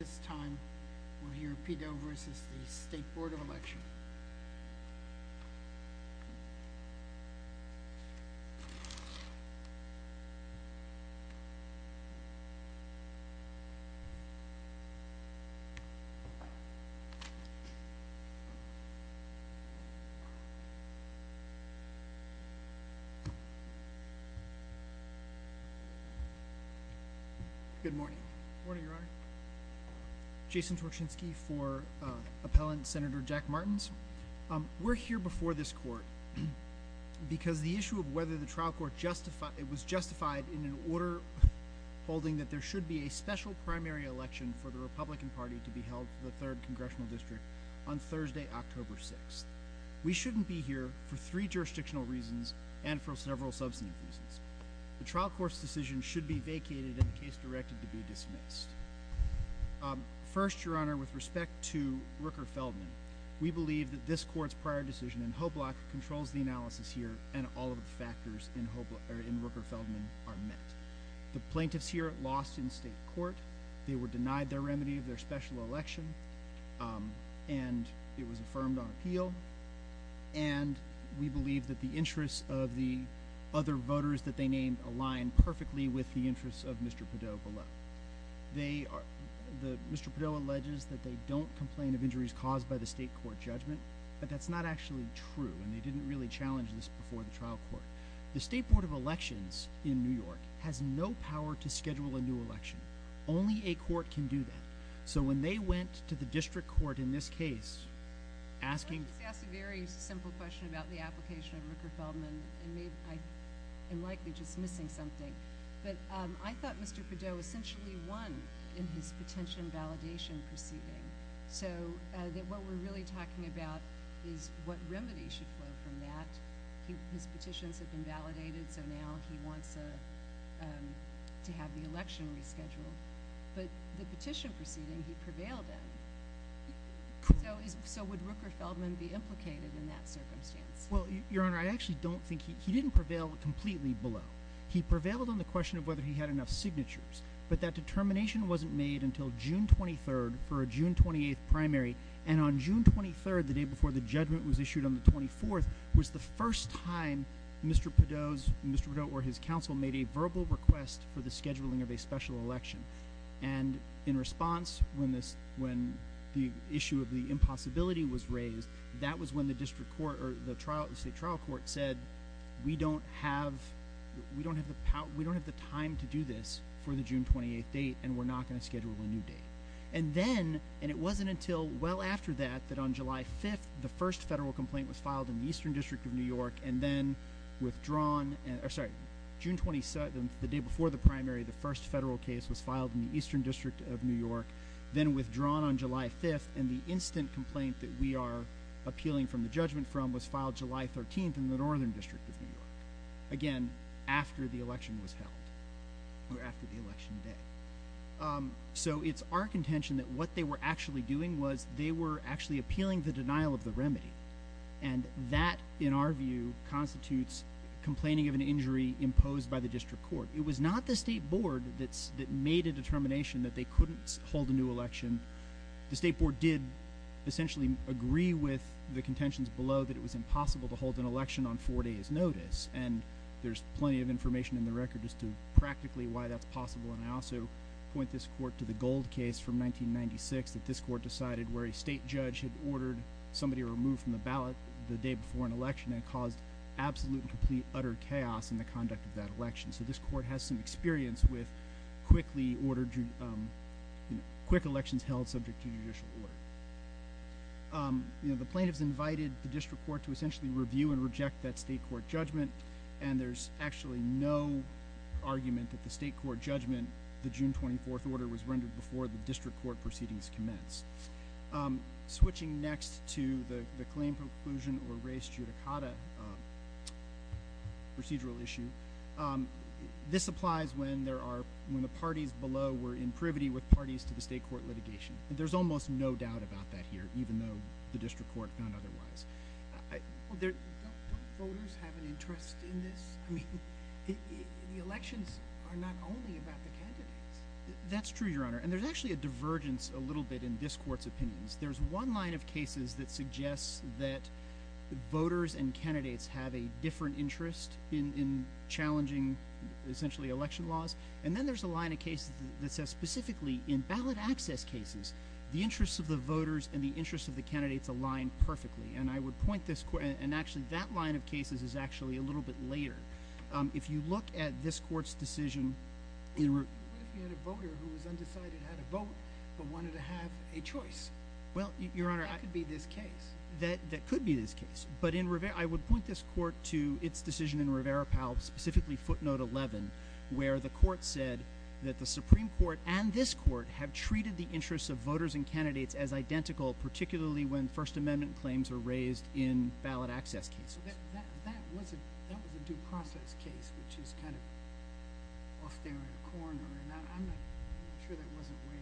This time, we'll hear Pidot v. the State Board of Election. Good morning. Morning, Your Honor. Jason Turchinsky for Appellant Senator Jack Martins. We're here before this court because the issue of whether the trial court justified- it was justified in an order holding that there should be a special primary election for the Republican Party to be held for the 3rd Congressional District on Thursday, October 6th. We shouldn't be here for three jurisdictional reasons and for several substantive reasons. The trial court's decision should be vacated and case directed to be dismissed. First, Your Honor, with respect to Rooker-Feldman, we believe that this court's prior decision in Hoblock controls the analysis here and all of the factors in Rooker-Feldman are met. The plaintiffs here lost in state court. They were denied their remedy of their special election and it was affirmed on appeal and we believe that the interests of the other voters that they named align perfectly with the interests of Mr. Pidot below. They are- Mr. Pidot alleges that they don't complain of injuries caused by the state court judgment, but that's not actually true and they didn't really challenge this before the trial court. The State Board of Elections in New York has no power to schedule a new election. Only a court can do that. So when they went to the district court in this case, asking- I just want to ask a very simple question about the application of Rooker-Feldman and I am likely just missing something. But I thought Mr. Pidot essentially won in his petition validation proceeding. So that what we're really talking about is what remedy should flow from that. His petitions have been validated. So now he wants to have the election rescheduled, but the petition proceeding he prevailed in. So is- so would Rooker-Feldman be implicated in that circumstance? Well, Your Honor, I actually don't think he didn't prevail completely below. He prevailed on the question of whether he had enough signatures, but that determination wasn't made until June 23rd for a June 28th primary. And on June 23rd, the day before the judgment was issued on the 24th was the first time Mr. Pidot's- Mr. Pidot or his counsel made a verbal request for the scheduling of a special election. And in response when this- when the issue of the impossibility was raised, that was when the district court or the trial- the state trial court said we don't have we don't have the power- we don't have the time to do this for the June 28th date and we're not going to schedule a new date. And then- and it wasn't until well after that that on July 5th, the first federal complaint was filed in the Eastern District of New York and then withdrawn- sorry, June 27th, the day before the primary, the first federal case was filed in the Eastern District of New York, then withdrawn on July 5th and the instant complaint that we are appealing from the judgment from was filed July 13th in the Northern District of New York. Again, after the election was held. Or after the election day. So it's our contention that what they were actually doing was they were actually appealing the denial of the remedy. And that in our view constitutes complaining of an injury imposed by the district court. It was not the state board that's- that made a determination that they couldn't hold a new election. The state board did essentially agree with the contentions below that it was and there's plenty of information in the record as to practically why that's possible. And I also point this court to the Gold case from 1996 that this court decided where a state judge had ordered somebody removed from the ballot the day before an election and caused absolute and complete utter chaos in the conduct of that election. So this court has some experience with quickly ordered- quick elections held subject to judicial order. You know, the plaintiffs invited the district court to essentially review and reject that state court judgment. And there's actually no argument that the state court judgment, the June 24th order, was rendered before the district court proceedings commence. Switching next to the claim preclusion or race judicata procedural issue. This applies when there are- when the parties below were in privity with parties to the state court litigation. There's almost no doubt about that here, even though the district court found otherwise. Don't voters have an interest in this? I mean, the elections are not only about the candidates. That's true, your honor. And there's actually a divergence a little bit in this court's opinions. There's one line of cases that suggests that voters and candidates have a different interest in challenging essentially election laws. And then there's a line of cases that says specifically in ballot access cases, the interests of the voters and the interests of the candidates align perfectly. And I would point this court- and actually that line of cases is actually a little bit later. If you look at this court's decision- What if you had a voter who was undecided how to vote, but wanted to have a choice? Well, your honor- That could be this case. That could be this case. But in Rivera- I would point this court to its decision in Rivera-Powell, specifically footnote 11, where the court said that the Supreme Court and this court have treated the interests of voters and candidates as identical, particularly when First Amendment claims are raised in ballot access cases. That was a due process case, which is kind of off there in a corner, and I'm not sure that wasn't waived.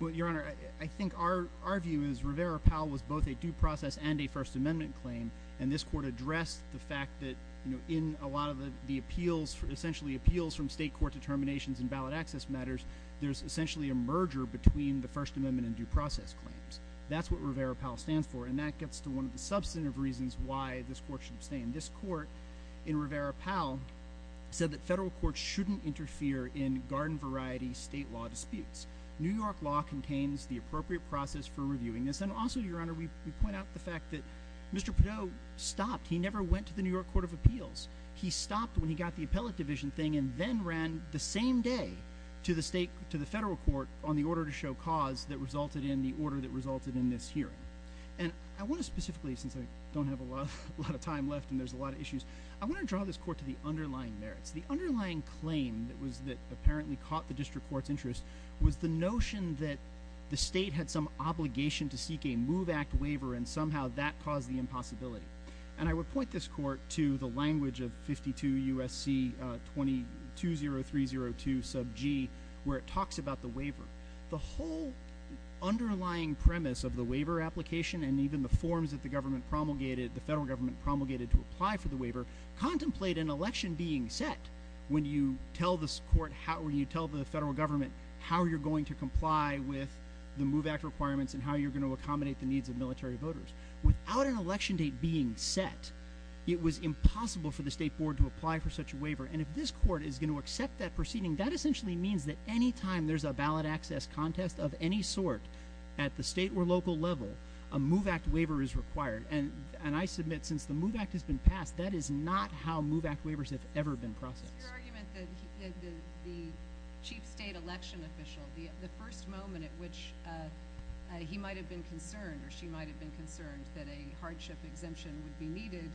Well, your honor, I think our view is Rivera-Powell was both a due process and a First Amendment claim, and this court addressed the fact that, you know, in a lot of the appeals- essentially appeals from state court determinations and ballot access matters, there's essentially a merger between the First Amendment and due process claims. That's what Rivera-Powell stands for, and that gets to one of the substantive reasons why this court should abstain. This court in Rivera-Powell said that federal courts shouldn't interfere in garden-variety state law disputes. New York law contains the appropriate process for reviewing this. And also, your honor, we point out the fact that Mr. Perdue stopped. He never went to the New York Court of Appeals. He stopped when he got the appellate division thing and then ran the same day to the state- to the federal court on the order to show cause that resulted in- the order that resulted in this hearing. And I want to specifically, since I don't have a lot- a lot of time left and there's a lot of issues, I want to draw this court to the underlying merits. The underlying claim that was- that apparently caught the district court's interest was the notion that the state had some obligation to seek a Move Act waiver and somehow that caused the impossibility. And I would point this court to the language of 52 U.S.C. 220302 sub g, where it talks about the waiver. The whole underlying premise of the waiver application and even the forms that the government promulgated- the federal government promulgated to apply for the waiver contemplate an election being set when you tell this court how- when you tell the federal government how you're going to comply with the Move Act requirements and how you're going to accommodate the needs of military voters. Without an election date being set, it was impossible for the state board to apply for such a waiver. And if this court is going to accept that proceeding, that access contest of any sort at the state or local level, a Move Act waiver is required. And- and I submit since the Move Act has been passed, that is not how Move Act waivers have ever been processed. Your argument that he- the- the chief state election official, the- the first moment at which he might have been concerned or she might have been concerned that a hardship exemption would be needed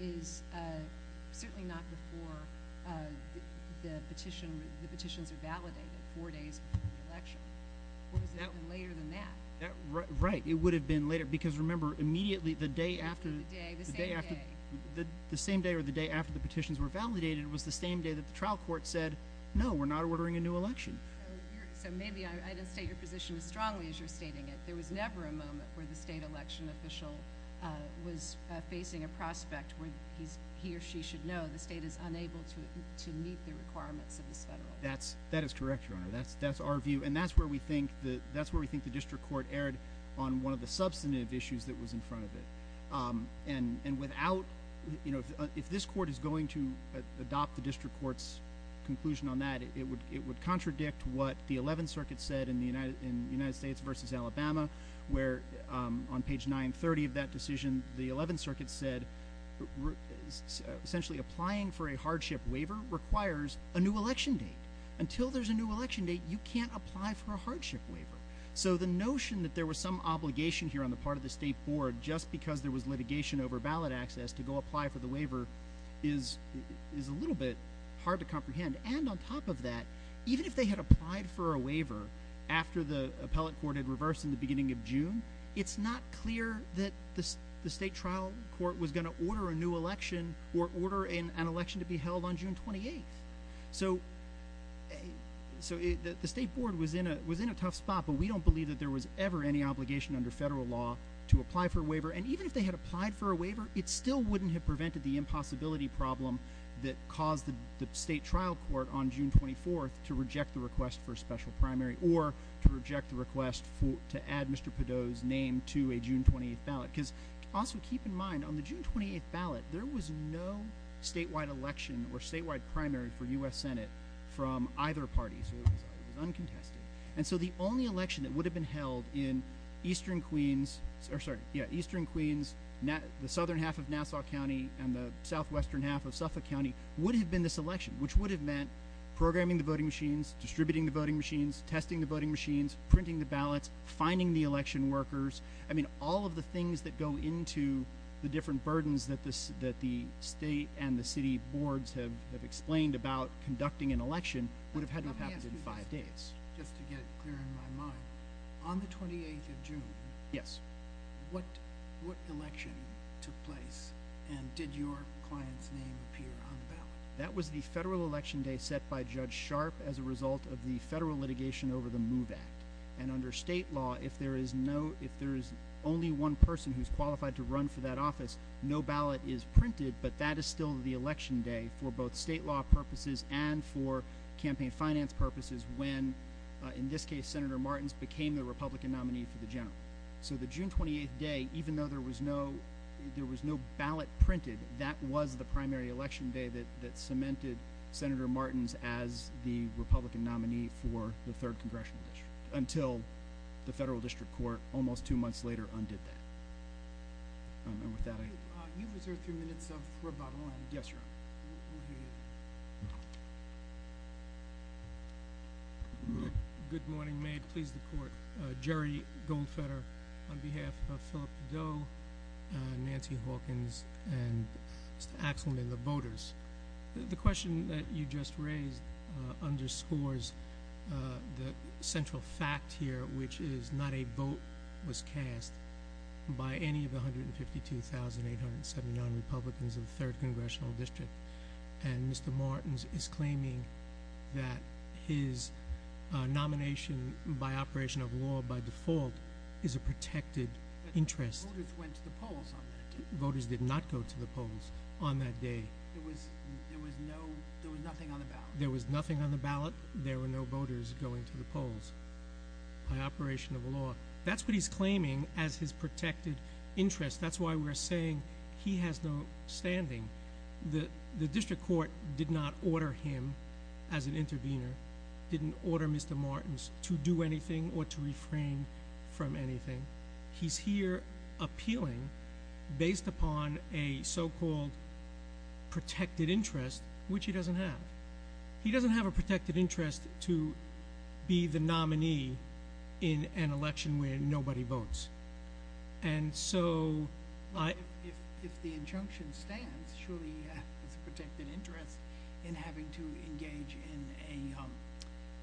is certainly not before the petition- the petitions are validated four days after the election. Or has it been later than that? That- right. It would have been later because, remember, immediately the day after- The day, the same day. The- the same day or the day after the petitions were validated was the same day that the trial court said, no, we're not ordering a new election. So maybe I- I didn't state your position as strongly as you're stating it. There was never a moment where the state election official was facing a prospect where he's- he or she should know the state is unable to- to meet the requirements of this federal. That's- that is correct, Your Honor. That's- that's our view and that's where we think the- that's where we think the district court erred on one of the substantive issues that was in front of it. And- and without, you know, if this court is going to adopt the district court's conclusion on that, it would- it would contradict what the Eleventh Circuit said in the United- in United States versus Alabama, where on page 930 of that decision, the Eleventh Circuit said essentially applying for a hardship waiver requires a new election date. Until there's a new election date, you can't apply for a hardship waiver. So the notion that there was some obligation here on the part of the state board just because there was litigation over ballot access to go apply for the waiver is- is a little bit hard to comprehend. And on top of that, even if they had applied for a waiver after the appellate court had reversed in the beginning of June, it's not clear that this- the state trial court was going to order a new election or order in an election to be held on June 28th. So so the state board was in a- was in a tough spot, but we don't believe that there was ever any obligation under federal law to apply for a waiver. And even if they had applied for a waiver, it still wouldn't have prevented the impossibility problem that caused the state trial court on June 24th to reject the request for a special primary or to reject the request for- to add Mr. Padot's name to a June 28th ballot. Because also keep in mind, on the June 28th ballot, there was no statewide election or statewide primary for U.S. Senate from either party. So it was uncontested. And so the only election that would have been held in Eastern Queens- sorry, yeah, Eastern Queens, the southern half of Nassau County, and the southwestern half of Suffolk County would have been this election, which would have meant programming the voting machines, distributing the voting machines, testing the voting machines, printing the ballots, finding the election workers. I mean, all of the things that go into the different burdens that this- that the state and the election would have had to happen in five days. Just to get clear in my mind, on the 28th of June, yes, what- what election took place? And did your client's name appear on the ballot? That was the federal election day set by Judge Sharp as a result of the federal litigation over the MOVE Act. And under state law, if there is no- if there is only one person who's qualified to run for that office, no ballot is printed, but that is still the election day for both state law purposes and for campaign finance purposes when, in this case, Senator Martins became the Republican nominee for the general. So the June 28th day, even though there was no- there was no ballot printed, that was the primary election day that- that cemented Senator Martins as the Republican nominee for the third congressional district, until the federal district court almost two months later undid that. And with that, I- You've reserved three minutes of rebuttal. Yes, Your Honor. Thank you. Good morning. May it please the court. Jerry Goldfeder, on behalf of Philip Doe, Nancy Hawkins, and Mr. Axelman, the voters. The question that you just raised underscores the central fact here, which is not a vote was cast by any of the 152,879 Republicans of the third congressional district. And Mr. Martins is claiming that his nomination by operation of law by default is a protected interest. Voters went to the polls on that day. Voters did not go to the polls on that day. There was- there was no- there was nothing on the ballot. There was nothing on the ballot. There were no voters going to the polls by operation of law. That's what he's claiming as his protected interest. That's why we're saying he has no standing. The- the district court did not order him as an intervener, didn't order Mr. Martins to do anything or to refrain from anything. He's here appealing based upon a so-called protected interest, which he doesn't have. He doesn't have a protected interest to be the nominee in an election where nobody votes. And so, I- if- if the injunction stands, surely he has a protected interest in having to engage in a-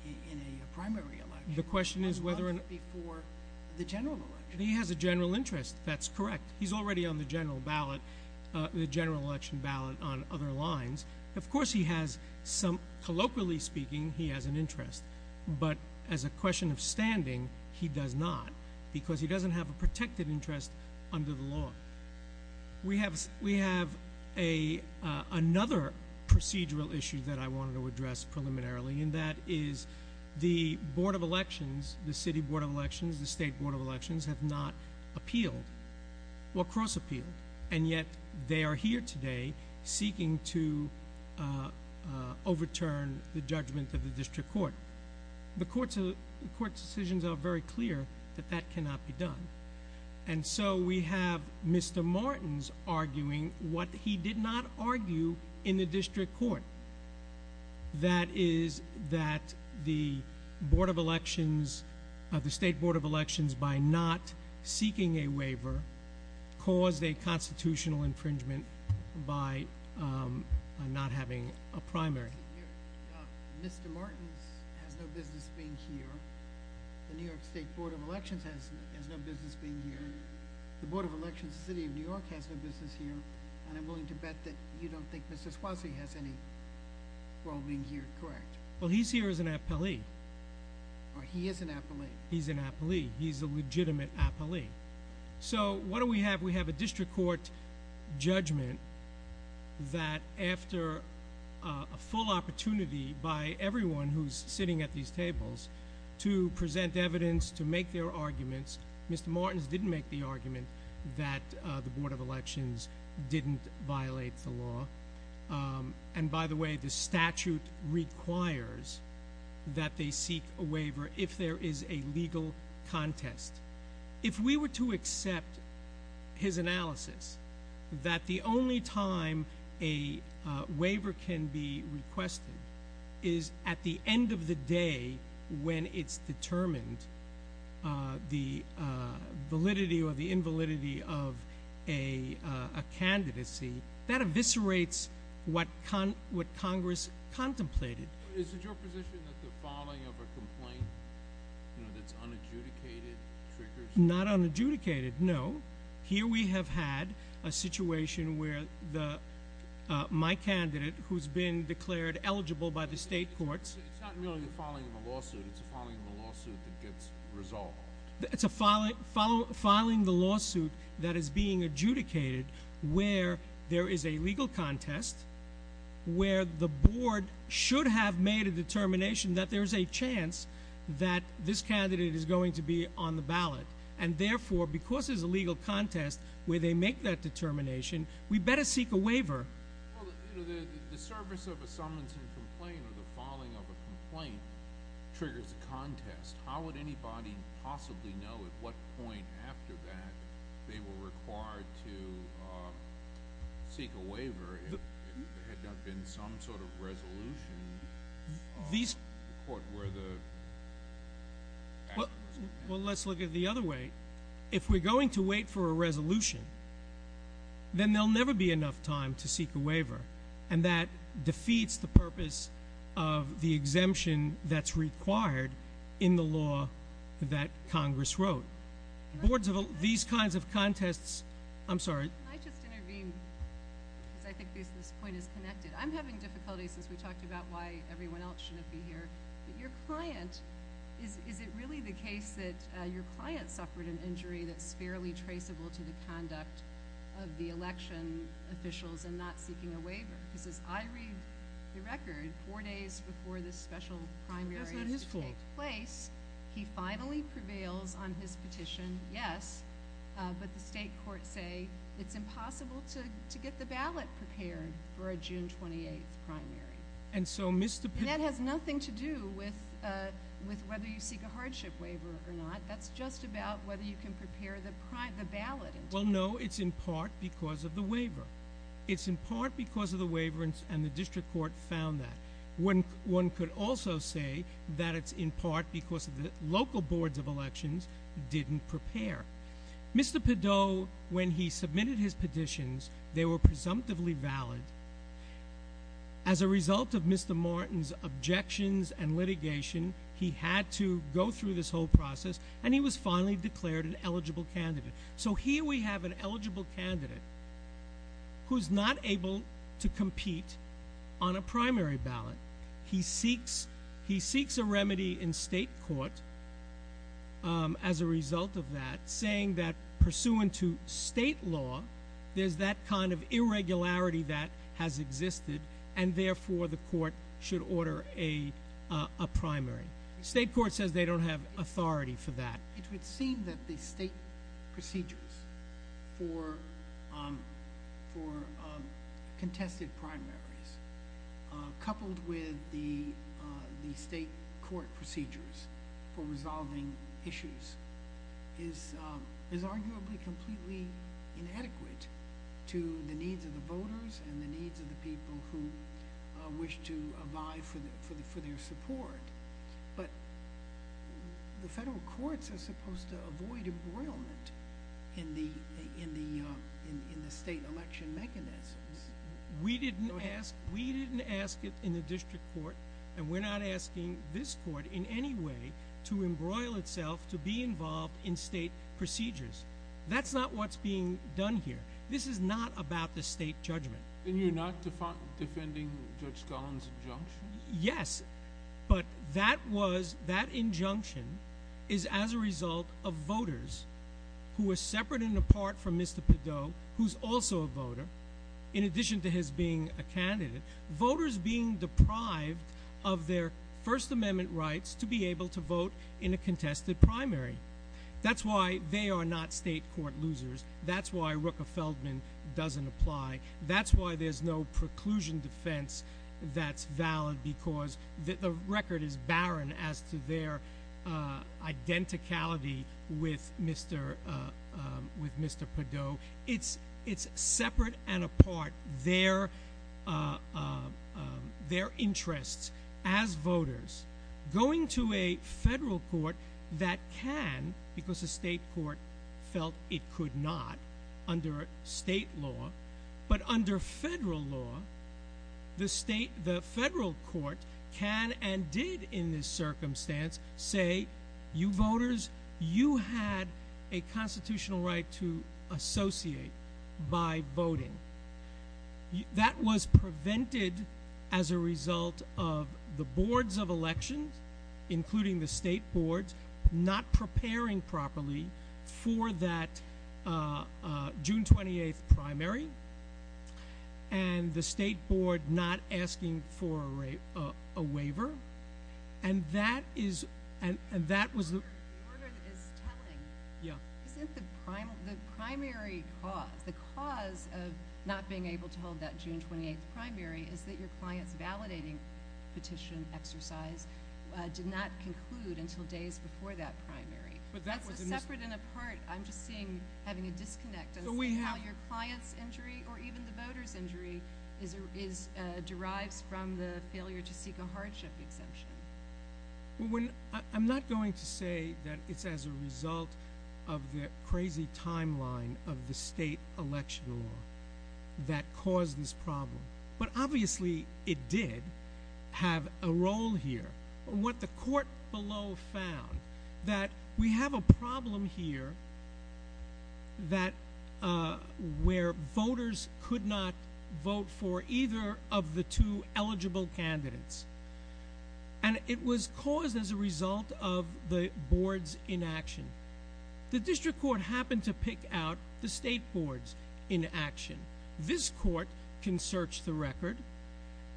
in a primary election- The question is whether- a month before the general election. He has a general interest. That's correct. He's already on the general ballot- the general election ballot on other lines. Of course, he has some- colloquially speaking, he has an interest. But as a question of standing, he does not because he doesn't have a protected interest under the law. We have- we have a- another procedural issue that I wanted to address preliminarily, and that is the Board of Elections, the City Board of Elections, the State Board of Elections, have not appealed or cross-appealed. And yet, they are here today seeking to overturn the judgment of the District Court. The Court's- the Court's decisions are very clear that that cannot be done. And so, we have Mr. Martins arguing what he did not argue in the District Court. That is that Board of Elections- the State Board of Elections, by not seeking a waiver, caused a constitutional infringement by not having a primary. Mr. Mayor, Mr. Martins has no business being here. The New York State Board of Elections has- has no business being here. The Board of Elections, the City of New York, has no business here. And I'm willing to bet that you don't think Mr. Suozzi has any role being here, correct? Well, he's here as an appellee. Oh, he is an appellee. He's an appellee. He's a legitimate appellee. So, what do we have? We have a District Court judgment that after a full opportunity by everyone who's sitting at these tables to present evidence, to make their arguments, Mr. Martins didn't make the argument that the Board of Elections didn't violate the law. And by the way, the statute requires that they seek a waiver if there is a legal contest. If we were to accept his analysis that the only time a waiver can be requested is at the end of the day when it's determined the validity or the invalidity of a candidacy, that eviscerates what Congress contemplated. Is it your position that the filing of a complaint that's unadjudicated triggers... Not unadjudicated, no. Here we have had a situation where my candidate, who's been declared eligible by the State Courts... It's not merely a filing of a lawsuit. It's a filing of a lawsuit that gets resolved. It's a filing of a lawsuit that is being adjudicated where there is a legal contest, where the Board should have made a determination that there's a chance that this candidate is going to be on the ballot. And therefore, because there's a legal contest where they make that determination, we better seek a waiver. Well, you know, the service of a summons and complaint or the filing of a complaint triggers a contest. How would anybody possibly know at what point after that they were required to seek a waiver if there had not been some sort of resolution in court where the... Well, let's look at it the other way. If we're going to wait for a resolution, then there'll never be enough time to seek a waiver. And that defeats the purpose of the exemption that's required in the law that Congress wrote. Boards of... These kinds of contests... I'm sorry. Can I just intervene? Because I think this point is connected. I'm having difficulty since we talked about why everyone else shouldn't be here. But your client... Is it really the case that your client suffered an injury that's fairly traceable to the conduct of the election officials and not seeking a waiver? Because as I read the record, four days before this special primary is to take place, he finally prevails on his petition, yes. But the state courts say it's impossible to get the ballot prepared for a June 28th primary. And so, Mr. Pitt... And that has nothing to do with whether you seek a hardship waiver or not. That's just about whether you can prepare the ballot. Well, no. It's in part because of the waiver. It's in part because of the waiver, and the district court found that. One could also say that it's in part because of the local boards of elections didn't prepare. Mr. Peddow, when he submitted his petitions, they were presumptively valid. As a result of Mr. Martin's objections and litigation, he had to go through this whole process, and he was finally declared an eligible candidate. So here we have an eligible candidate who's not able to compete on a primary ballot. He seeks a remedy in state court as a result of that, saying that, pursuant to state law, there's that kind of irregularity that has existed, and therefore the court should order a primary. State court says they don't have authority for that. It would seem that the state procedures for contested primaries, coupled with the state court procedures for resolving issues, is arguably completely inadequate to the needs of the voters and the needs of the people who wish to abide for their support. But the federal courts are supposed to avoid embroilment in the state election mechanisms. We didn't ask it in the district court, and we're not asking this court in any way to embroil itself to be involved in state procedures. That's not what's being done here. This is not about the state judgment. And you're not defending Judge Scullin's injunction? Yes, but that injunction is as a result of voters who are separate and apart from Mr. Pidot, who's also a voter, in addition to his being a candidate, voters being deprived of their First Amendment rights to be able to vote in a contested primary. That's why they are not state court losers. That's why Rooker-Feldman doesn't apply. That's why there's no preclusion defense that's valid, because the record is barren as to their identicality with Mr. Pidot. It's separate and apart, their interests as voters going to a federal court that can, because the state court felt it could not, under state law, but under federal law, the federal court can and did, in this circumstance, say, you voters, you had a constitutional right to associate by voting. That was prevented as a result of the boards of elections, including the state boards, not preparing properly for that June 28th primary. And the state board not asking for a waiver. And that is, and that was the... The order is telling. Isn't the primary cause, the cause of not being able to hold that June 28th primary is that your client's validating petition exercise did not conclude until days before that primary. That's separate and apart. I'm just seeing, having a disconnect. How your client's injury, or even the voter's injury, derives from the failure to seek a hardship exemption. I'm not going to say that it's as a result of the crazy timeline of the state election law that caused this problem. But obviously it did have a role here. What the court below found, that we have a problem here where voters could not vote for either of the two eligible candidates. And it was caused as a result of the boards in action. The district court happened to pick out the state boards in action. This court can search the record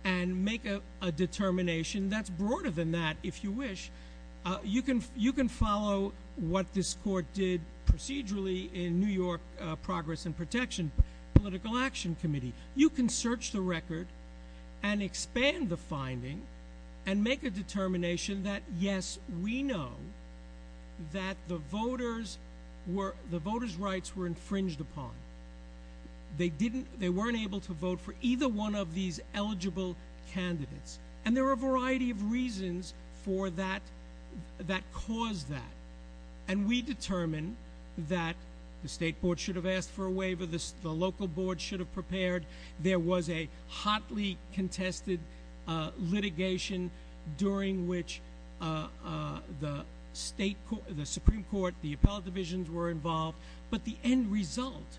and make a determination that's broader than that, if you wish. You can follow what this court did procedurally in New York Progress and Protection Political Action Committee. You can search the record and expand the finding and make a determination that yes, we know that the voters' rights were infringed upon. They weren't able to vote for either one of these eligible candidates. And there are a variety of reasons for that, that caused that. And we determined that the state board should have asked for a waiver, the local board should have prepared. There was a hotly contested litigation during which the Supreme Court, the appellate divisions were involved. But the end result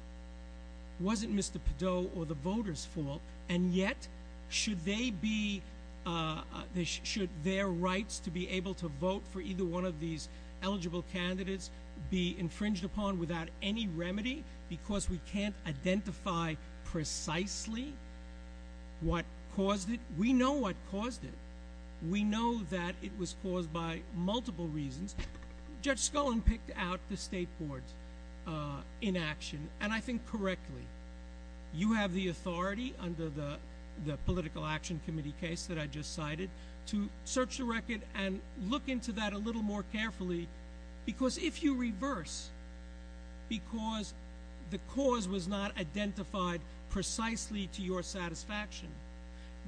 wasn't Mr. Perdot or the voters' fault. And yet, should their rights to be able to vote for either one of these eligible candidates be infringed upon without any remedy because we can't identify precisely what caused it? We know what caused it. We know that it was caused by multiple reasons. Judge Scullin picked out the state boards in action, and I think correctly. You have the authority under the Political Action Committee case that I just cited to search the record and look into that a little more carefully. Because if you reverse, because the cause was not identified precisely to your satisfaction,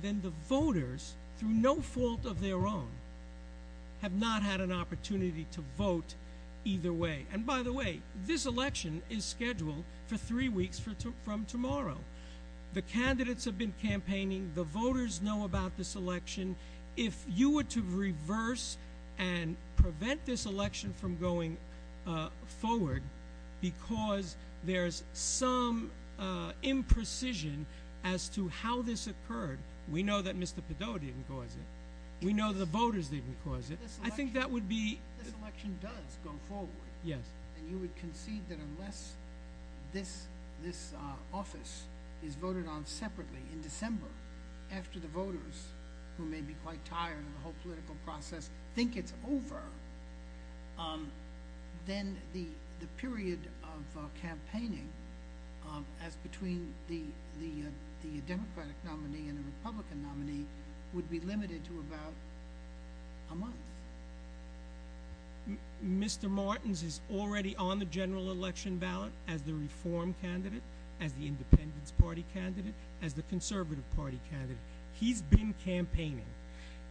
then the voters, through no fault of their own, have not had an opportunity to vote either way. And by the way, this election is scheduled for three weeks from tomorrow. The candidates have been campaigning. The voters know about this election. If you were to reverse and prevent this election from going forward because there's some imprecision as to how this occurred, we know that Mr. Perdot didn't cause it. We know the voters didn't cause it. If this election does go forward and you would concede that unless this office is voted on separately in December after the voters, who may be quite tired of the whole political process, think it's over, then the period of campaigning as between the Democratic nominee and the Republican nominee would be limited to about a month. Mr. Martins is already on the general election ballot as the Reform candidate, as the Independence Party candidate, as the Conservative Party candidate. He's been campaigning.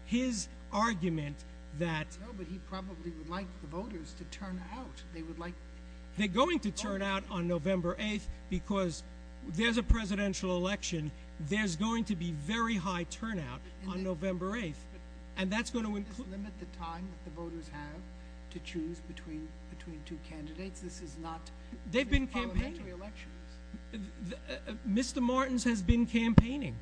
His argument that... No, but he probably would like the voters to turn out. They would like... They're going to turn out on November 8th because there's a presidential election. There's going to be very high turnout on November 8th. And that's going to include... Does this limit the time that the voters have to choose between two candidates? This is not... They've been campaigning. This is parliamentary elections. Mr. Martins has been campaigning.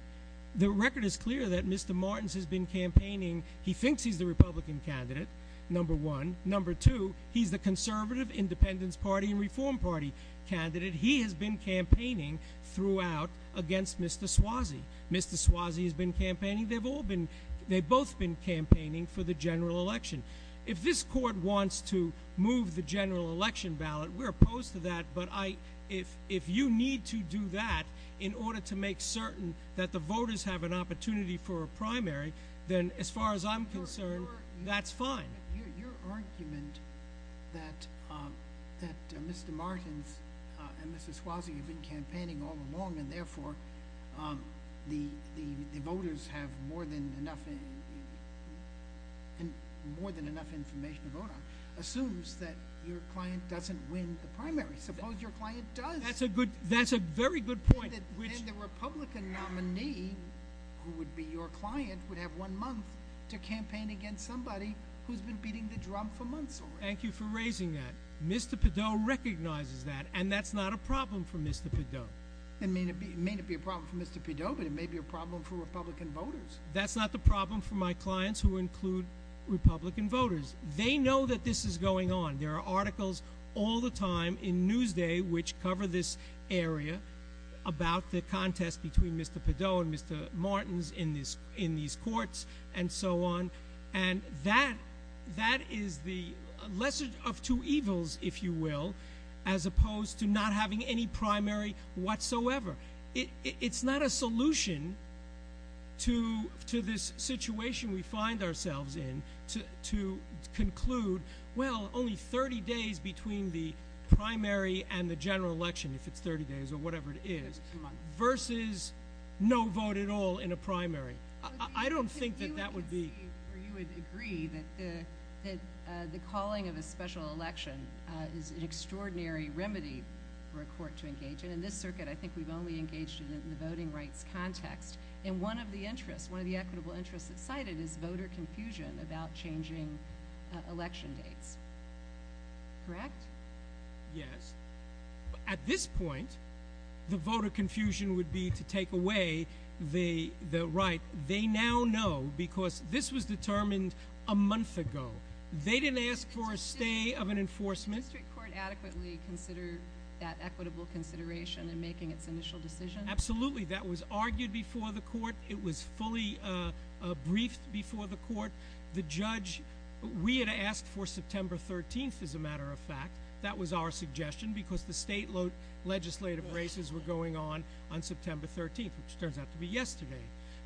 The record is clear that Mr. Martins has been campaigning. He thinks he's the Republican candidate, number one. Number two, he's the Conservative, Independence Party, and Reform Party candidate. He has been campaigning throughout against Mr. Swasey. Mr. Swasey has been campaigning. They've both been campaigning for the general election. If this court wants to move the general election ballot, we're opposed to that, but if you need to do that in order to make certain that the voters have an opportunity for a primary, then, as far as I'm concerned, that's fine. Your argument that Mr. Martins and Mr. Swasey have been campaigning all along and, therefore, the voters have more than enough information to vote on assumes that your client doesn't win the primary. Suppose your client does. That's a very good point. Then the Republican nominee, who would be your client, would have one month to campaign against somebody who's been beating the drum for months already. Thank you for raising that. Mr. Peddow recognizes that, and that's not a problem for Mr. Peddow. It may not be a problem for Mr. Peddow, but it may be a problem for Republican voters. That's not the problem for my clients, who include Republican voters. They know that this is going on. There are articles all the time in Newsday, which cover this area about the contest between Mr. Peddow and Mr. Martins in these courts and so on. And that is the lesser of two evils, if you will, as opposed to not having any primary whatsoever. It's not a solution to this situation we find ourselves in, to conclude, well, only 30 days between the primary and the general election, if it's 30 days or whatever it is, versus no vote at all in a primary. I don't think that that would be— You would agree that the calling of a special election is an extraordinary remedy for a court to engage in. In this circuit, I think we've only engaged in it in the voting rights context. And one of the equitable interests that's cited is voter confusion about changing election dates. Correct? Yes. At this point, the voter confusion would be to take away the right. They now know because this was determined a month ago. They didn't ask for a stay of an enforcement. Did the district court adequately consider that equitable consideration in making its initial decision? Absolutely. That was argued before the court. It was fully briefed before the court. The judge—we had asked for September 13th, as a matter of fact. That was our suggestion because the state legislative races were going on on September 13th, which turns out to be yesterday.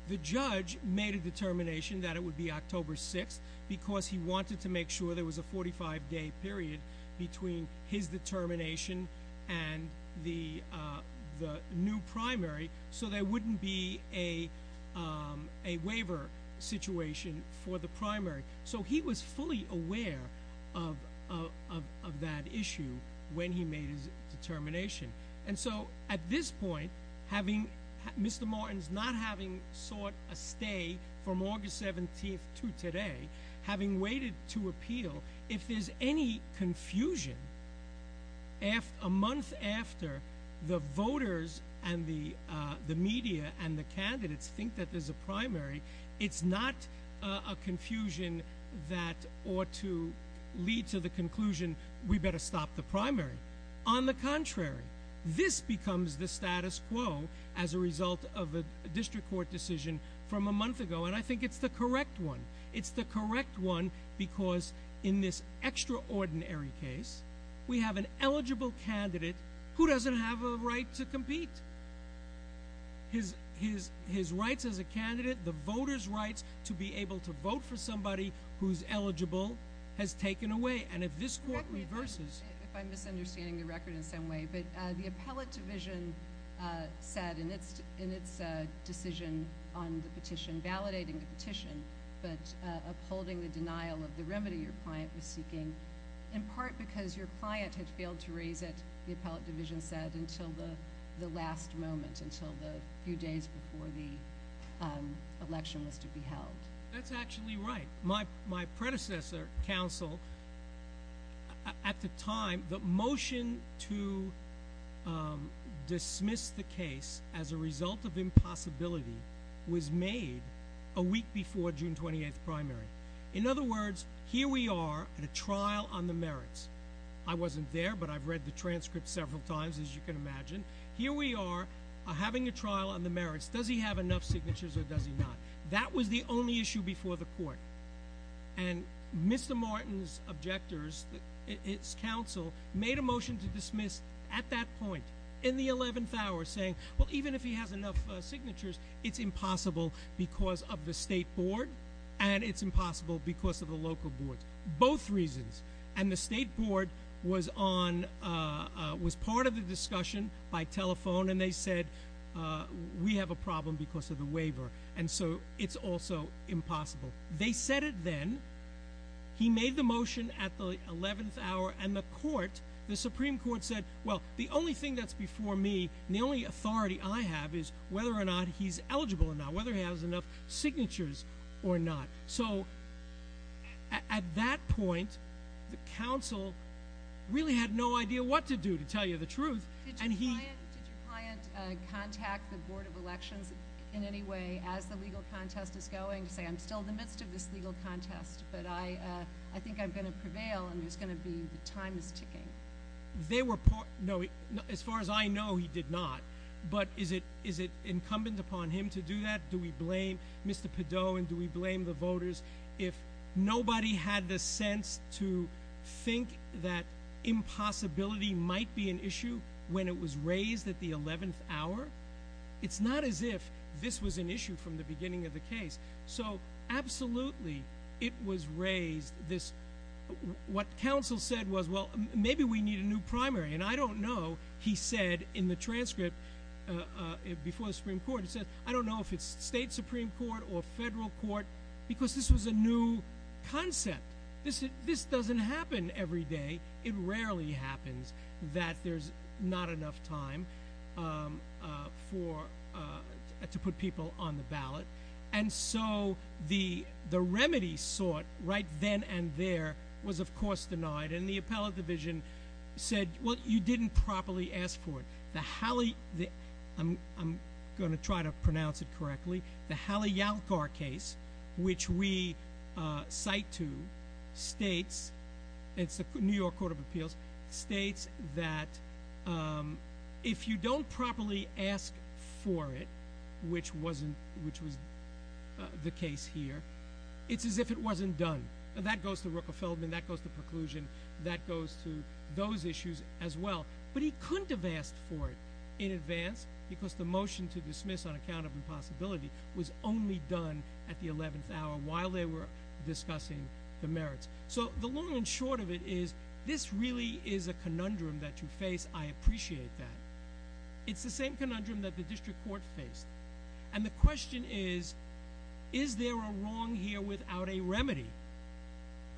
The judge made a determination that it would be October 6th because he wanted to make sure there was a 45-day period between his determination and the new primary, so there wouldn't be a waiver situation for the primary. So he was fully aware of that issue when he made his determination. And so, at this point, Mr. Morton's not having sought a stay from August 17th to today, having waited to appeal, if there's any confusion a month after the voters and the media and the candidates think that there's a primary, it's not a confusion that ought to lead to the conclusion, we better stop the primary. On the contrary, this becomes the status quo as a result of a district court decision from a month ago, and I think it's the correct one. It's the correct one because in this extraordinary case, we have an eligible candidate who doesn't have a right to compete. His rights as a candidate, the voters' rights to be able to vote for somebody who's eligible, has taken away. And if this court reverses- If I'm misunderstanding the record in some way, but the appellate division said in its decision on the petition, validating the petition but upholding the denial of the remedy your client was seeking, in part because your client had failed to raise it, the appellate division said, until the last moment, until the few days before the election was to be held. That's actually right. My predecessor counsel, at the time, the motion to dismiss the case as a result of impossibility was made a week before June 28th primary. In other words, here we are at a trial on the merits. I wasn't there, but I've read the transcript several times, as you can imagine. Here we are having a trial on the merits. Does he have enough signatures or does he not? That was the only issue before the court. And Mr. Martin's objectors, its counsel, made a motion to dismiss at that point, in the eleventh hour, saying, well, even if he has enough signatures, it's impossible because of the state board, and it's impossible because of the local board. Both reasons. And the state board was on, was part of the discussion by telephone, and they said, we have a problem because of the waiver, and so it's also impossible. They said it then. He made the motion at the eleventh hour, and the court, the Supreme Court, said, well, the only thing that's before me and the only authority I have is whether or not he's eligible or not, whether he has enough signatures or not. So, at that point, the counsel really had no idea what to do, to tell you the truth. And he- Did your client contact the Board of Elections in any way, as the legal contest is going, to say, I'm still in the midst of this legal contest, but I think I'm going to prevail, and there's going to be, the time is ticking? They were, no, as far as I know, he did not. But is it incumbent upon him to do that? Do we blame Mr. Padot, and do we blame the voters? If nobody had the sense to think that impossibility might be an issue when it was raised at the eleventh hour, it's not as if this was an issue from the beginning of the case. So, absolutely, it was raised, this, what counsel said was, well, maybe we need a new primary, and I don't know, he said in the transcript before the Supreme Court, he said, I don't know if it's state Supreme Court or federal court, because this was a new concept. This doesn't happen every day. It rarely happens that there's not enough time for, to put people on the ballot. And so, the remedy sought right then and there was, of course, denied. And the appellate division said, well, you didn't properly ask for it. The Halley, I'm going to try to pronounce it correctly. The Halley-Yalkar case, which we cite to, states, it's the New York Court of Appeals, states that if you don't properly ask for it, which was the case here, it's as if it wasn't done. That goes to Ruckelsfeldman, that goes to preclusion, that goes to those issues as well. But he couldn't have asked for it in advance, because the motion to dismiss on account of impossibility was only done at the 11th hour while they were discussing the merits. So, the long and short of it is, this really is a conundrum that you face. I appreciate that. It's the same conundrum that the district court faced. And the question is, is there a wrong here without a remedy?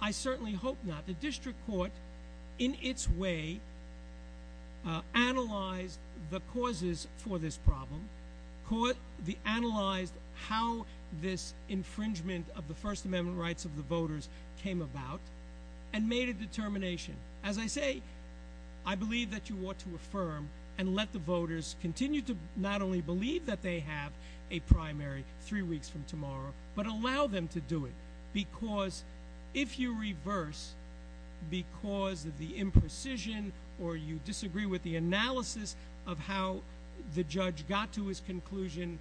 I certainly hope not. The district court, in its way, analyzed the causes for this problem, analyzed how this infringement of the First Amendment rights of the voters came about, and made a determination. As I say, I believe that you ought to affirm and let the voters continue to not only believe that they have a primary three weeks from tomorrow, but allow them to do it. Because if you reverse, because of the imprecision, or you disagree with the analysis of how the judge got to his conclusion,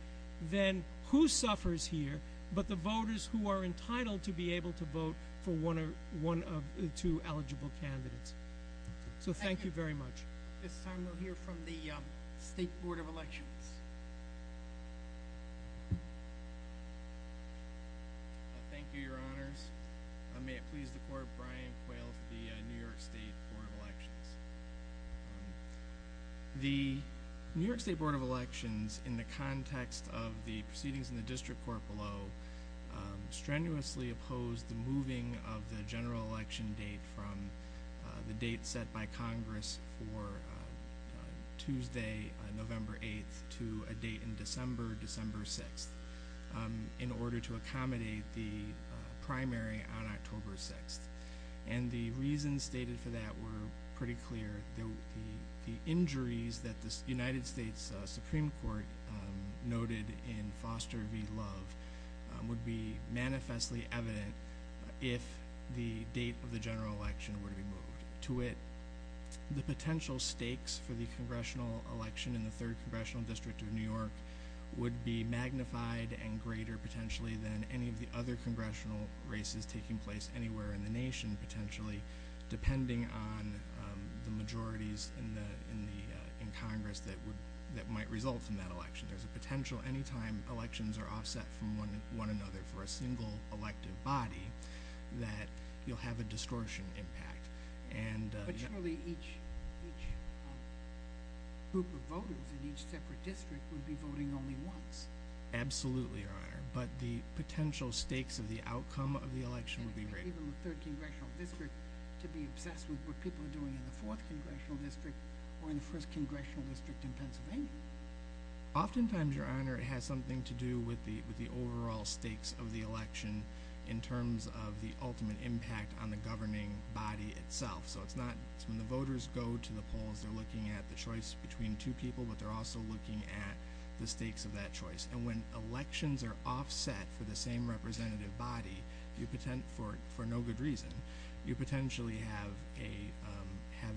then who suffers here but the voters who are entitled to be able to vote for one of the two eligible candidates. So thank you very much. This time we'll hear from the State Board of Elections. Thank you, Your Honors. May it please the Court, Brian Quayle for the New York State Board of Elections. The New York State Board of Elections, in the context of the proceedings in the district court below, strenuously opposed the moving of the general election date from the date set by Congress for Tuesday, November 8th, to a date in December, December 6th, in order to accommodate the primary on October 6th. And the reasons stated for that were pretty clear. The injuries that the United States Supreme Court noted in Foster v. Love would be manifestly evident if the date of the general election were to be moved. The potential stakes for the congressional election in the Third Congressional District of New York would be magnified and greater, potentially, than any of the other congressional races taking place anywhere in the nation, potentially, depending on the majorities in Congress that might result in that election. There's a potential, any time elections are offset from one another for a single elective body, that you'll have a distortion impact. But surely each group of voters in each separate district would be voting only once. Absolutely, Your Honor, but the potential stakes of the outcome of the election would be greater. Even the Third Congressional District could be obsessed with what people are doing in the Fourth Congressional District or in the First Congressional District in Pennsylvania. Oftentimes, Your Honor, it has something to do with the overall stakes of the election in terms of the ultimate impact on the governing body itself. So it's not, when the voters go to the polls, they're looking at the choice between two people, but they're also looking at the stakes of that choice. And when elections are offset for the same representative body, for no good reason, you potentially have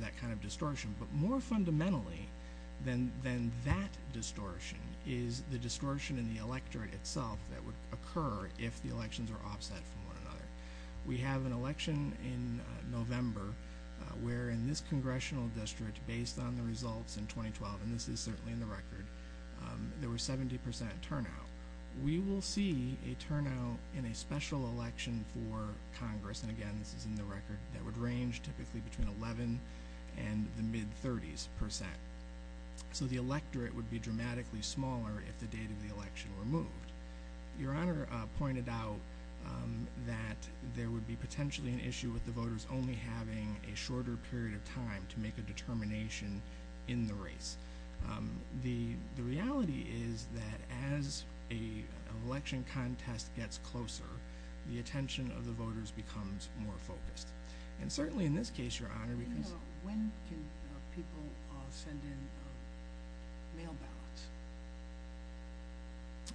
that kind of distortion. But more fundamentally than that distortion is the distortion in the electorate itself that would occur if the elections are offset from one another. We have an election in November where in this Congressional District, based on the results in 2012, and this is certainly in the record, there was 70% turnout. We will see a turnout in a special election for Congress, and again, this is in the record, that would range typically between 11 and the mid-30s percent. So the electorate would be dramatically smaller if the date of the election were moved. Your Honor pointed out that there would be potentially an issue with the voters only having a shorter period of time to make a determination in the race. The reality is that as an election contest gets closer, the attention of the voters becomes more focused. And certainly in this case, Your Honor, because- When can people send in mail ballots?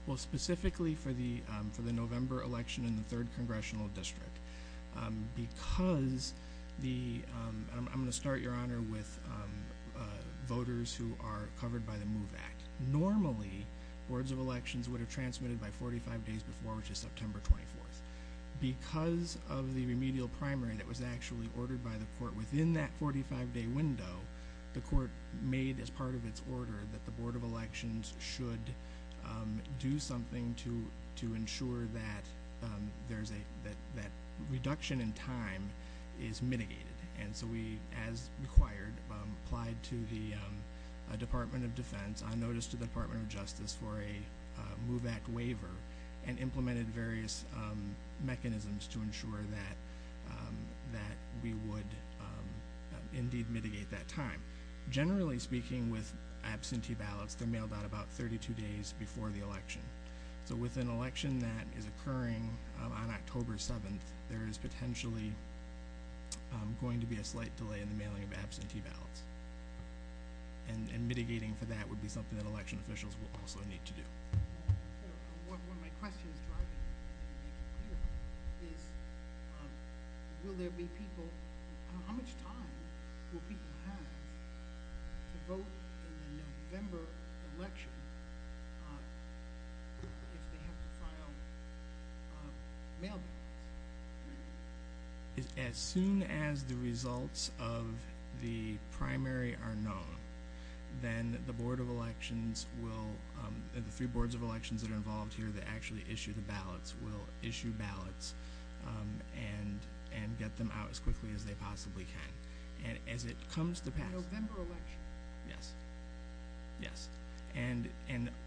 Well, specifically for the November election in the 3rd Congressional District, because the-I'm going to start, Your Honor, with voters who are covered by the MOVE Act. Normally, boards of elections would have transmitted by 45 days before, which is September 24th. Because of the remedial primary that was actually ordered by the court within that 45-day window, the court made as part of its order that the board of elections should do something to ensure that that reduction in time is mitigated. And so we, as required, applied to the Department of Defense, on notice to the Department of Justice for a MOVE Act waiver, and implemented various mechanisms to ensure that we would indeed mitigate that time. Generally speaking, with absentee ballots, they're mailed out about 32 days before the election. So with an election that is occurring on October 7th, there is potentially going to be a slight delay in the mailing of absentee ballots. And mitigating for that would be something that election officials would also need to do. One of my questions, if I can make it clear, is will there be people-how much time will people have to vote in the November election if they have to file mail-in ballots? As soon as the results of the primary are known, then the board of elections will- the three boards of elections that are involved here that actually issue the ballots will issue ballots and get them out as quickly as they possibly can. And as it comes to pass- The November election? Yes. Yes. And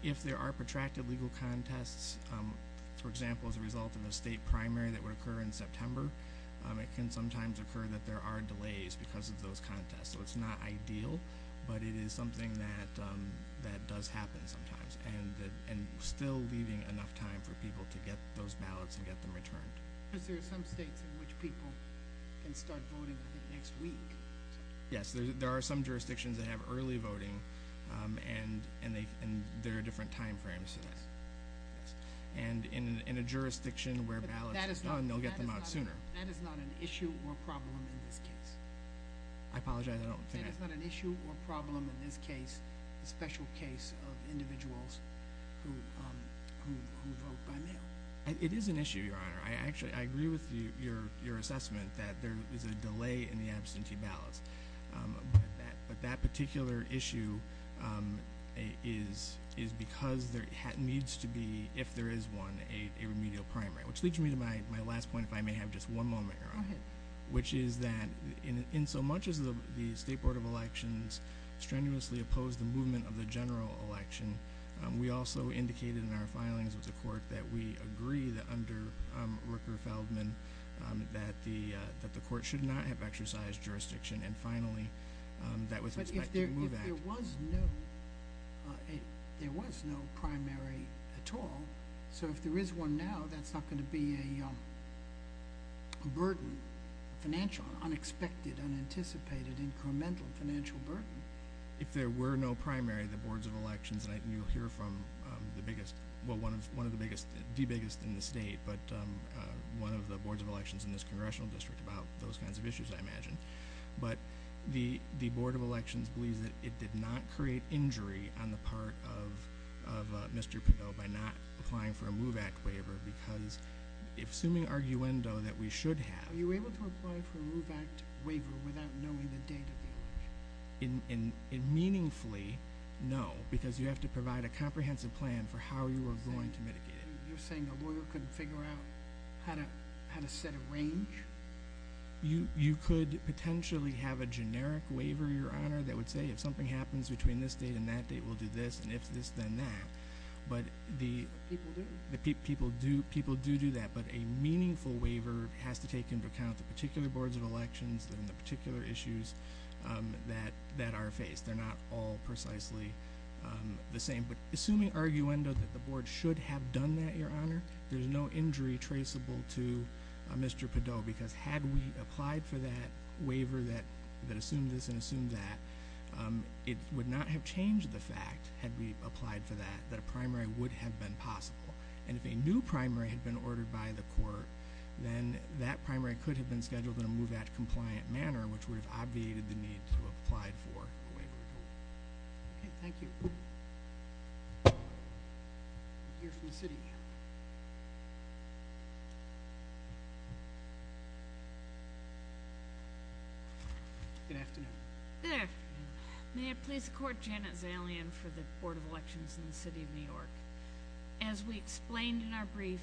if there are protracted legal contests, for example, as a result of a state primary that would occur in September, it can sometimes occur that there are delays because of those contests. So it's not ideal, but it is something that does happen sometimes. And still leaving enough time for people to get those ballots and get them returned. Because there are some states in which people can start voting next week. Yes, there are some jurisdictions that have early voting, and there are different time frames. And in a jurisdiction where ballots are done, they'll get them out sooner. That is not an issue or problem in this case. I apologize, I don't think I- That is not an issue or problem in this case, the special case of individuals who vote by mail. It is an issue, Your Honor. I agree with your assessment that there is a delay in the absentee ballots. But that particular issue is because there needs to be, if there is one, a remedial primary. Which leads me to my last point, if I may have just one moment, Your Honor. Go ahead. Which is that in so much as the State Board of Elections strenuously opposed the movement of the general election, we also indicated in our filings with the court that we agree that under Rooker-Feldman that the court should not have exercised jurisdiction. And finally, that with respect to the Move Act- But if there was no primary at all, so if there is one now, that is not going to be a burden, financial, unexpected, unanticipated, incremental financial burden. If there were no primary, the Boards of Elections, and you will hear from the biggest, well, one of the biggest, the biggest in the state, but one of the Boards of Elections in this Congressional District about those kinds of issues, I imagine. But the Board of Elections believes that it did not create injury on the part of Mr. Padot by not applying for a Move Act waiver because assuming arguendo that we should have- Are you able to apply for a Move Act waiver without knowing the date of the election? Meaningfully, no, because you have to provide a comprehensive plan for how you are going to mitigate it. You're saying a lawyer couldn't figure out how to set a range? You could potentially have a generic waiver, Your Honor, that would say if something happens between this date and that date, we'll do this, and if this, then that. But the- People do. People do do that, but a meaningful waiver has to take into account the particular Boards of Elections and the particular issues that are faced. They're not all precisely the same. But assuming arguendo that the Board should have done that, Your Honor, there's no injury traceable to Mr. Padot because had we applied for that waiver that assumed this and assumed that, it would not have changed the fact, had we applied for that, that a primary would have been possible. And if a new primary had been ordered by the court, then that primary could have been scheduled in a Move Act compliant manner, which would have obviated the need to have applied for a waiver. Okay, thank you. We'll hear from the city. Good afternoon. Good afternoon. May it please the Court, Janet Zalian for the Board of Elections in the City of New York. As we explained in our brief,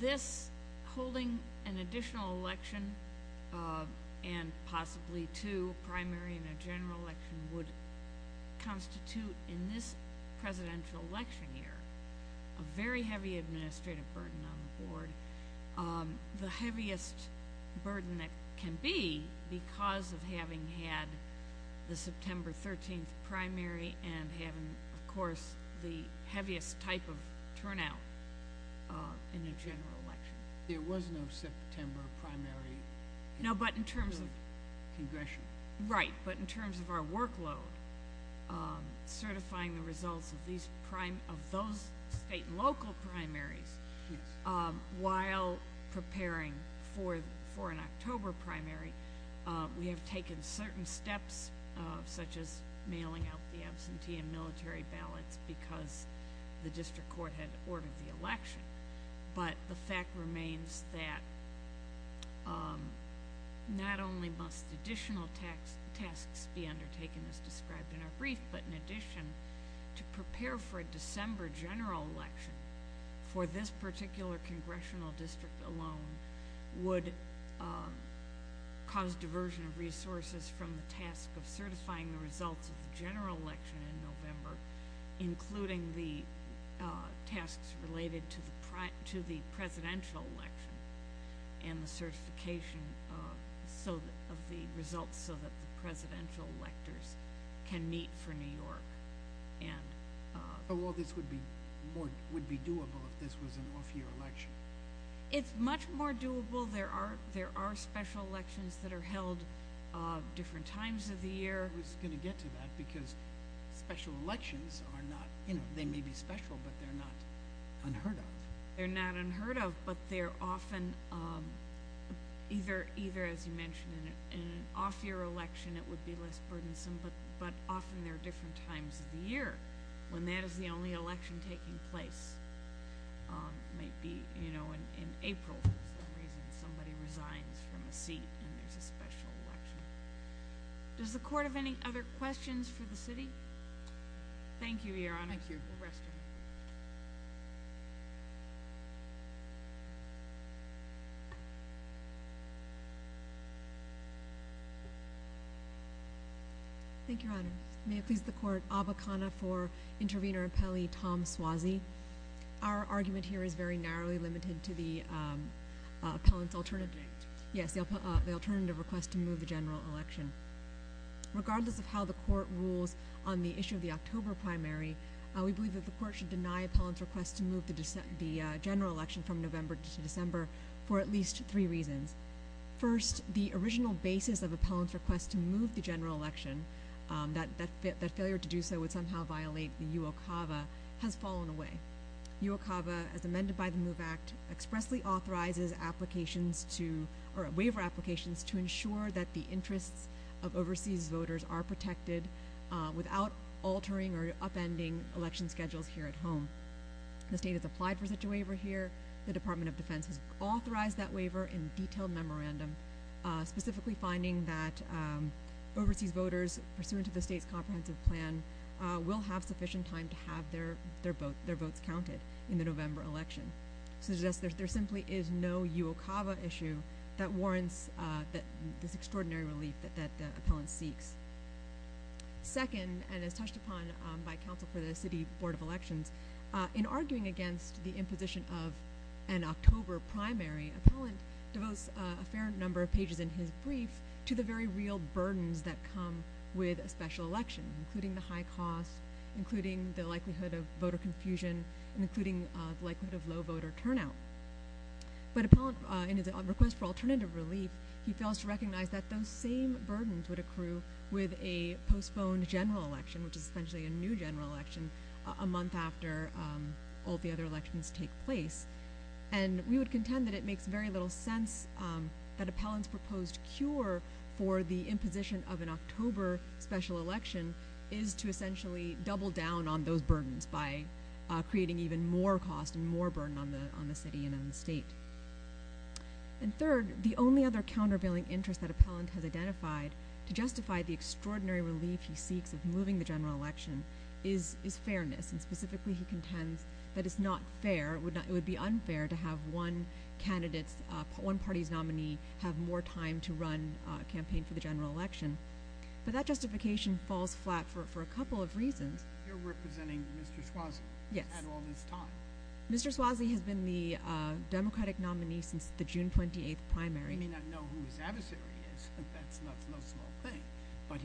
this holding an additional election and possibly two, primary and a general election, would constitute in this presidential election year a very heavy administrative burden on the Board, the heaviest burden that can be because of having had the September 13th primary and having, of course, the heaviest type of turnout in a general election. There was no September primary. No, but in terms of – It was a congressional. Right, but in terms of our workload, certifying the results of those state and local primaries while preparing for an October primary, we have taken certain steps, such as mailing out the absentee and military ballots because the district court had ordered the election. But the fact remains that not only must additional tasks be undertaken, as described in our brief, but in addition, to prepare for a December general election for this particular congressional district alone would cause diversion of resources from the task of certifying the results of the general election in November, including the tasks related to the presidential election and the certification of the results so that the presidential electors can meet for New York. Oh, well, this would be doable if this was an off-year election. It's much more doable. There are special elections that are held different times of the year. I was going to get to that because special elections are not – they may be special, but they're not unheard of. They're not unheard of, but they're often either, as you mentioned, in an off-year election it would be less burdensome, but often there are different times of the year when that is the only election taking place. It might be in April for some reason somebody resigns from a seat and there's a special election. Does the court have any other questions for the city? Thank you, Your Honor. Thank you. We'll rest here. Thank you, Your Honor. May it please the Court, Aba Kana for Intervenor Appellee Tom Suozzi. Our argument here is very narrowly limited to the appellant's alternative – Object. Yes, the alternative request to move the general election. Regardless of how the court rules on the issue of the October primary, we believe that the court should deny appellant's request to move the general election from November to December for at least three reasons. First, the original basis of appellant's request to move the general election, that failure to do so would somehow violate the UOCAVA, has fallen away. UOCAVA, as amended by the MOVE Act, expressly authorizes applications to – of overseas voters are protected without altering or upending election schedules here at home. The state has applied for such a waiver here. The Department of Defense has authorized that waiver in detailed memorandum, specifically finding that overseas voters, pursuant to the state's comprehensive plan, will have sufficient time to have their votes counted in the November election. There simply is no UOCAVA issue that warrants this extraordinary relief that the appellant seeks. Second, and as touched upon by counsel for the City Board of Elections, in arguing against the imposition of an October primary, appellant devotes a fair number of pages in his brief to the very real burdens that come with a special election, including the high cost, including the likelihood of voter confusion, including the likelihood of low voter turnout. But appellant, in his request for alternative relief, he fails to recognize that those same burdens would accrue with a postponed general election, which is essentially a new general election, a month after all the other elections take place. And we would contend that it makes very little sense that appellant's proposed cure for the imposition of an October special election is to essentially double down on those burdens by creating even more cost and more burden on the city and on the state. And third, the only other countervailing interest that appellant has identified to justify the extraordinary relief he seeks of moving the general election is fairness, and specifically he contends that it's not fair, it would be unfair to have one candidate's, one party's nominee, have more time to run a campaign for the general election. But that justification falls flat for a couple of reasons. You're representing Mr. Schwozle at all this time. Mr. Schwozle has been the Democratic nominee since the June 28th primary. We may not know who his adversary is, that's no small thing, but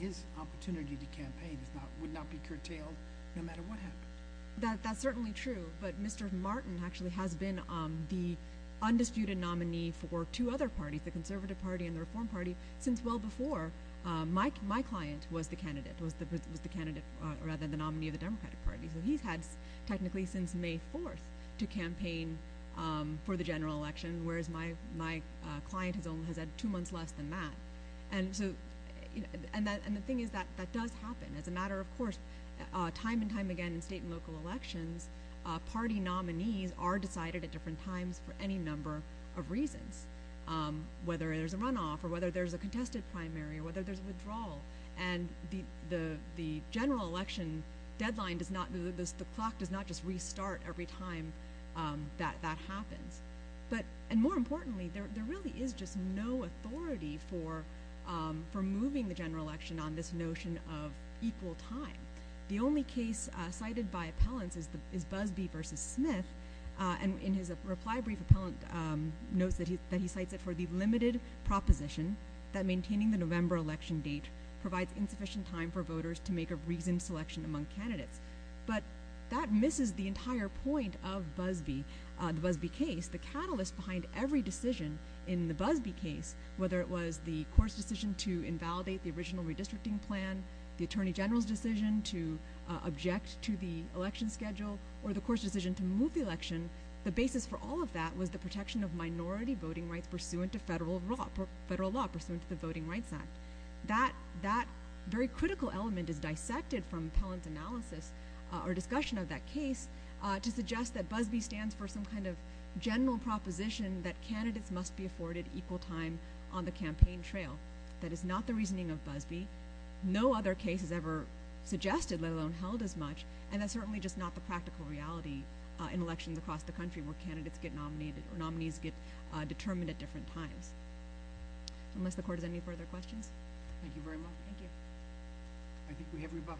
his opportunity to campaign would not be curtailed no matter what happened. That's certainly true, but Mr. Martin actually has been the undisputed nominee for two other parties, the Conservative Party and the Reform Party, since well before my client was the candidate, was the nominee of the Democratic Party. So he's had technically since May 4th to campaign for the general election, whereas my client has had two months less than that. And the thing is that that does happen. As a matter of course, time and time again in state and local elections, party nominees are decided at different times for any number of reasons, whether there's a runoff or whether there's a contested primary or whether there's a withdrawal. And the general election deadline does not, the clock does not just restart every time that that happens. And more importantly, there really is just no authority for moving the general election on this notion of equal time. The only case cited by appellants is Busby v. Smith. And in his reply brief, appellant notes that he cites it for the limited proposition that maintaining the November election date provides insufficient time for voters to make a reasoned selection among candidates. But that misses the entire point of Busby, the Busby case, the catalyst behind every decision in the Busby case, whether it was the court's decision to invalidate the original redistricting plan, the attorney general's decision to object to the election schedule, or the court's decision to move the election, the basis for all of that was the protection of minority voting rights pursuant to federal law, pursuant to the Voting Rights Act. That very critical element is dissected from appellant analysis, or discussion of that case, to suggest that Busby stands for some kind of general proposition that candidates must be afforded equal time on the campaign trail. That is not the reasoning of Busby. No other case has ever suggested, let alone held, as much. And that's certainly just not the practical reality in elections across the country where candidates get nominated, or nominees get determined at different times. Unless the court has any further questions? Thank you very much. Thank you. I think we have rebuttal.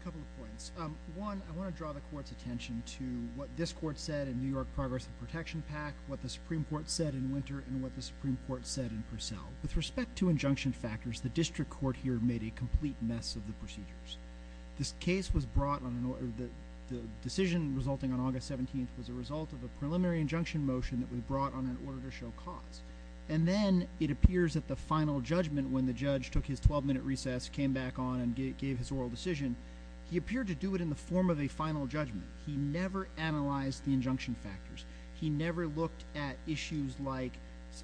A couple of points. One, I want to draw the court's attention to what this court said in the New York Progressive Protection Pact, what the Supreme Court said in Winter, and what the Supreme Court said in Purcell. With respect to injunction factors, the district court here made a complete mess of the procedures. This case was brought on an order, the decision resulting on August 17th was a result of a preliminary injunction motion that was brought on an order to show cause. And then it appears that the final judgment, when the judge took his 12-minute recess, came back on, and gave his oral decision, he appeared to do it in the form of a final judgment. He never analyzed the injunction factors. He never looked at issues like,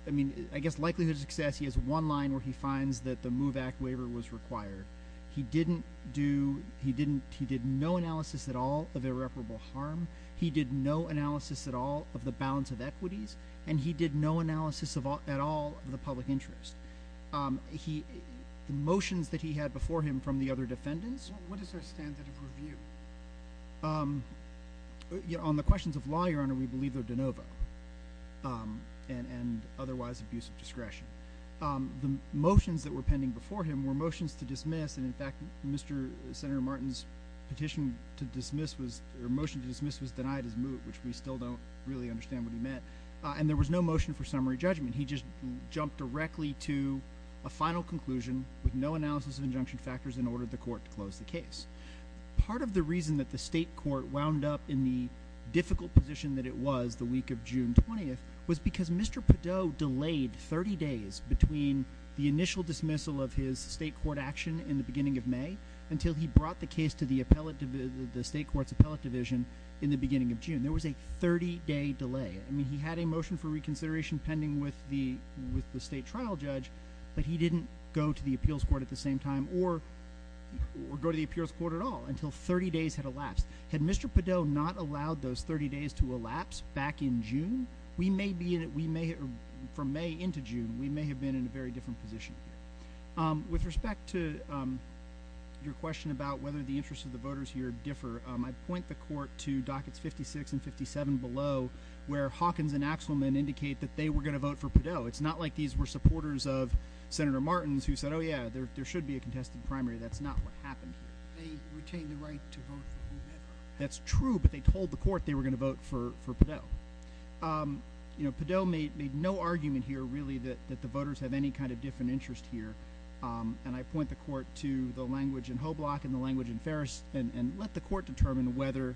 I mean, I guess likelihood of success, he has one line where he finds that the MOVE Act waiver was required. He didn't do, he didn't, he did no analysis at all of irreparable harm. He did no analysis at all of the balance of equities, and he did no analysis at all of the public interest. He, the motions that he had before him from the other defendants. What is their standard of review? On the questions of law, Your Honor, we believe they're de novo, and otherwise abuse of discretion. The motions that were pending before him were motions to dismiss, and in fact, Mr. Senator Martin's petition to dismiss was, or motion to dismiss was denied as MOVE, which we still don't really understand what he meant. And there was no motion for summary judgment. He just jumped directly to a final conclusion with no analysis of injunction factors in order for the court to close the case. Part of the reason that the state court wound up in the difficult position that it was the week of June 20th was because Mr. Padot delayed 30 days between the initial dismissal of his state court action in the beginning of May until he brought the case to the state court's appellate division in the beginning of June. There was a 30-day delay. I mean, he had a motion for reconsideration pending with the state trial judge, but he didn't go to the appeals court at the same time or go to the appeals court at all until 30 days had elapsed. Had Mr. Padot not allowed those 30 days to elapse back in June, we may have been in a very different position. With respect to your question about whether the interests of the voters here differ, I'd point the court to dockets 56 and 57 below where Hawkins and Axelman indicate that they were going to vote for Padot. It's not like these were supporters of Senator Martin's who said, oh, yeah, there should be a contested primary. That's not what happened here. They retained the right to vote for whomever. That's true, but they told the court they were going to vote for Padot. Padot made no argument here really that the voters have any kind of different interest here, and I point the court to the language in Hoblock and the language in Ferris and let the court determine whether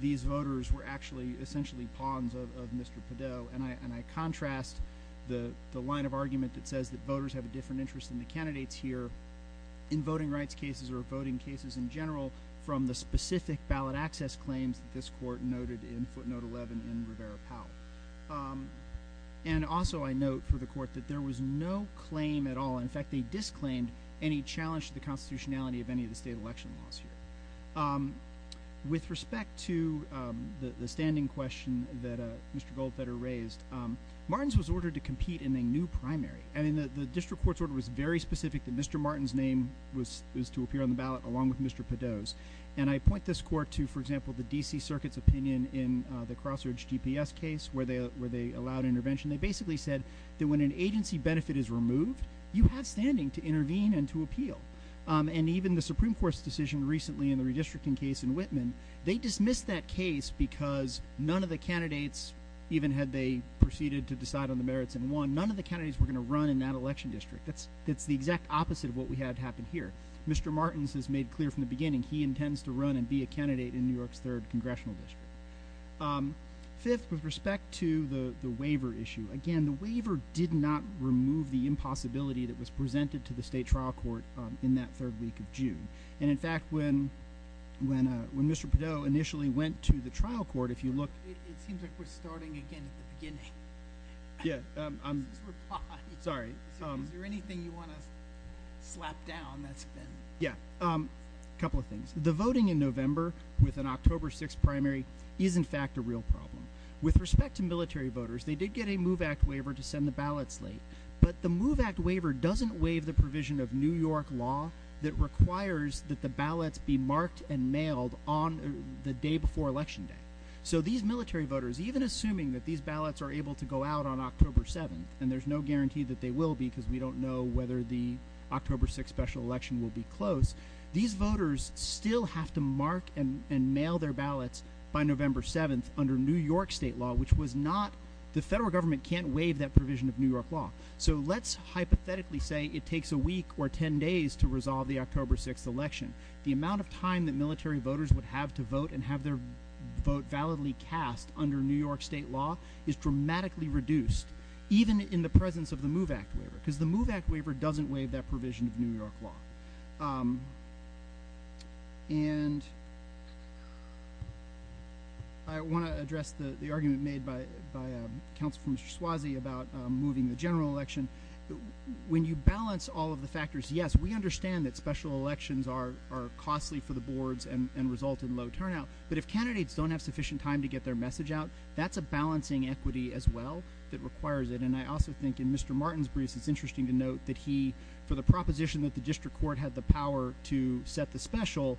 these voters were actually essentially pawns of Mr. Padot. I contrast the line of argument that says that voters have a different interest than the candidates here in voting rights cases or voting cases in general from the specific ballot access claims that this court noted in footnote 11 in Rivera-Powell. Also, I note for the court that there was no claim at all. In fact, they disclaimed any challenge to the constitutionality of any of the state election laws here. With respect to the standing question that Mr. Goldfeder raised, Martin's was ordered to compete in a new primary, and the district court's order was very specific that Mr. Martin's name was to appear on the ballot along with Mr. Padot's, and I point this court to, for example, the D.C. Circuit's opinion in the Crossroads GPS case where they allowed intervention. They basically said that when an agency benefit is removed, you have standing to intervene and to appeal, and even the Supreme Court's decision recently in the redistricting case in Whitman, they dismissed that case because none of the candidates, even had they proceeded to decide on the merits and won, none of the candidates were going to run in that election district. That's the exact opposite of what we had happen here. Mr. Martin's has made clear from the beginning he intends to run and be a candidate in New York's third congressional district. Fifth, with respect to the waiver issue, again, the waiver did not remove the impossibility that was presented to the state trial court in that third week of June, and, in fact, when Mr. Padot initially went to the trial court, if you look- It seems like we're starting again at the beginning. Yeah, I'm- This is reply. Sorry. Is there anything you want to slap down that's been- Yeah, a couple of things. The voting in November with an October 6th primary is, in fact, a real problem. With respect to military voters, they did get a MOVE Act waiver to send the ballots late, but the MOVE Act waiver doesn't waive the provision of New York law that requires that the ballots be marked and mailed on the day before Election Day. So these military voters, even assuming that these ballots are able to go out on October 7th, and there's no guarantee that they will be because we don't know whether the October 6th special election will be close, these voters still have to mark and mail their ballots by November 7th under New York state law, which was not- The federal government can't waive that provision of New York law. So let's hypothetically say it takes a week or ten days to resolve the October 6th election. The amount of time that military voters would have to vote and have their vote validly cast under New York state law is dramatically reduced, even in the presence of the MOVE Act waiver, because the MOVE Act waiver doesn't waive that provision of New York law. And I want to address the argument made by Councilman Suozzi about moving the general election. When you balance all of the factors, yes, we understand that special elections are costly for the boards and result in low turnout, but if candidates don't have sufficient time to get their message out, that's a balancing equity as well that requires it. And I also think in Mr. Martin's briefs, it's interesting to note that he, for the proposition that the district court had the power to set the special,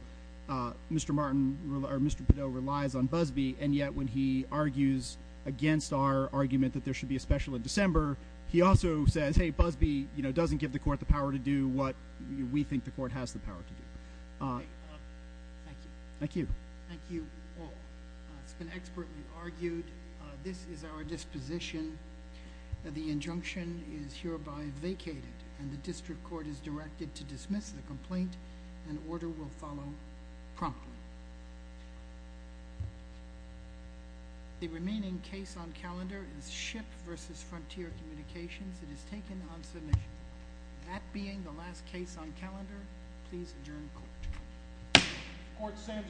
Mr. Padot relies on Busbee, and yet when he argues against our argument that there should be a special in December, he also says, hey, Busbee doesn't give the court the power to do what we think the court has the power to do. Thank you. Thank you. Thank you all. It's been expertly argued. This is our disposition. The injunction is hereby vacated, and the district court is directed to dismiss the complaint, and order will follow promptly. The remaining case on calendar is SHIP versus Frontier Communications. It is taken on submission. That being the last case on calendar, please adjourn court. Court stands adjourned.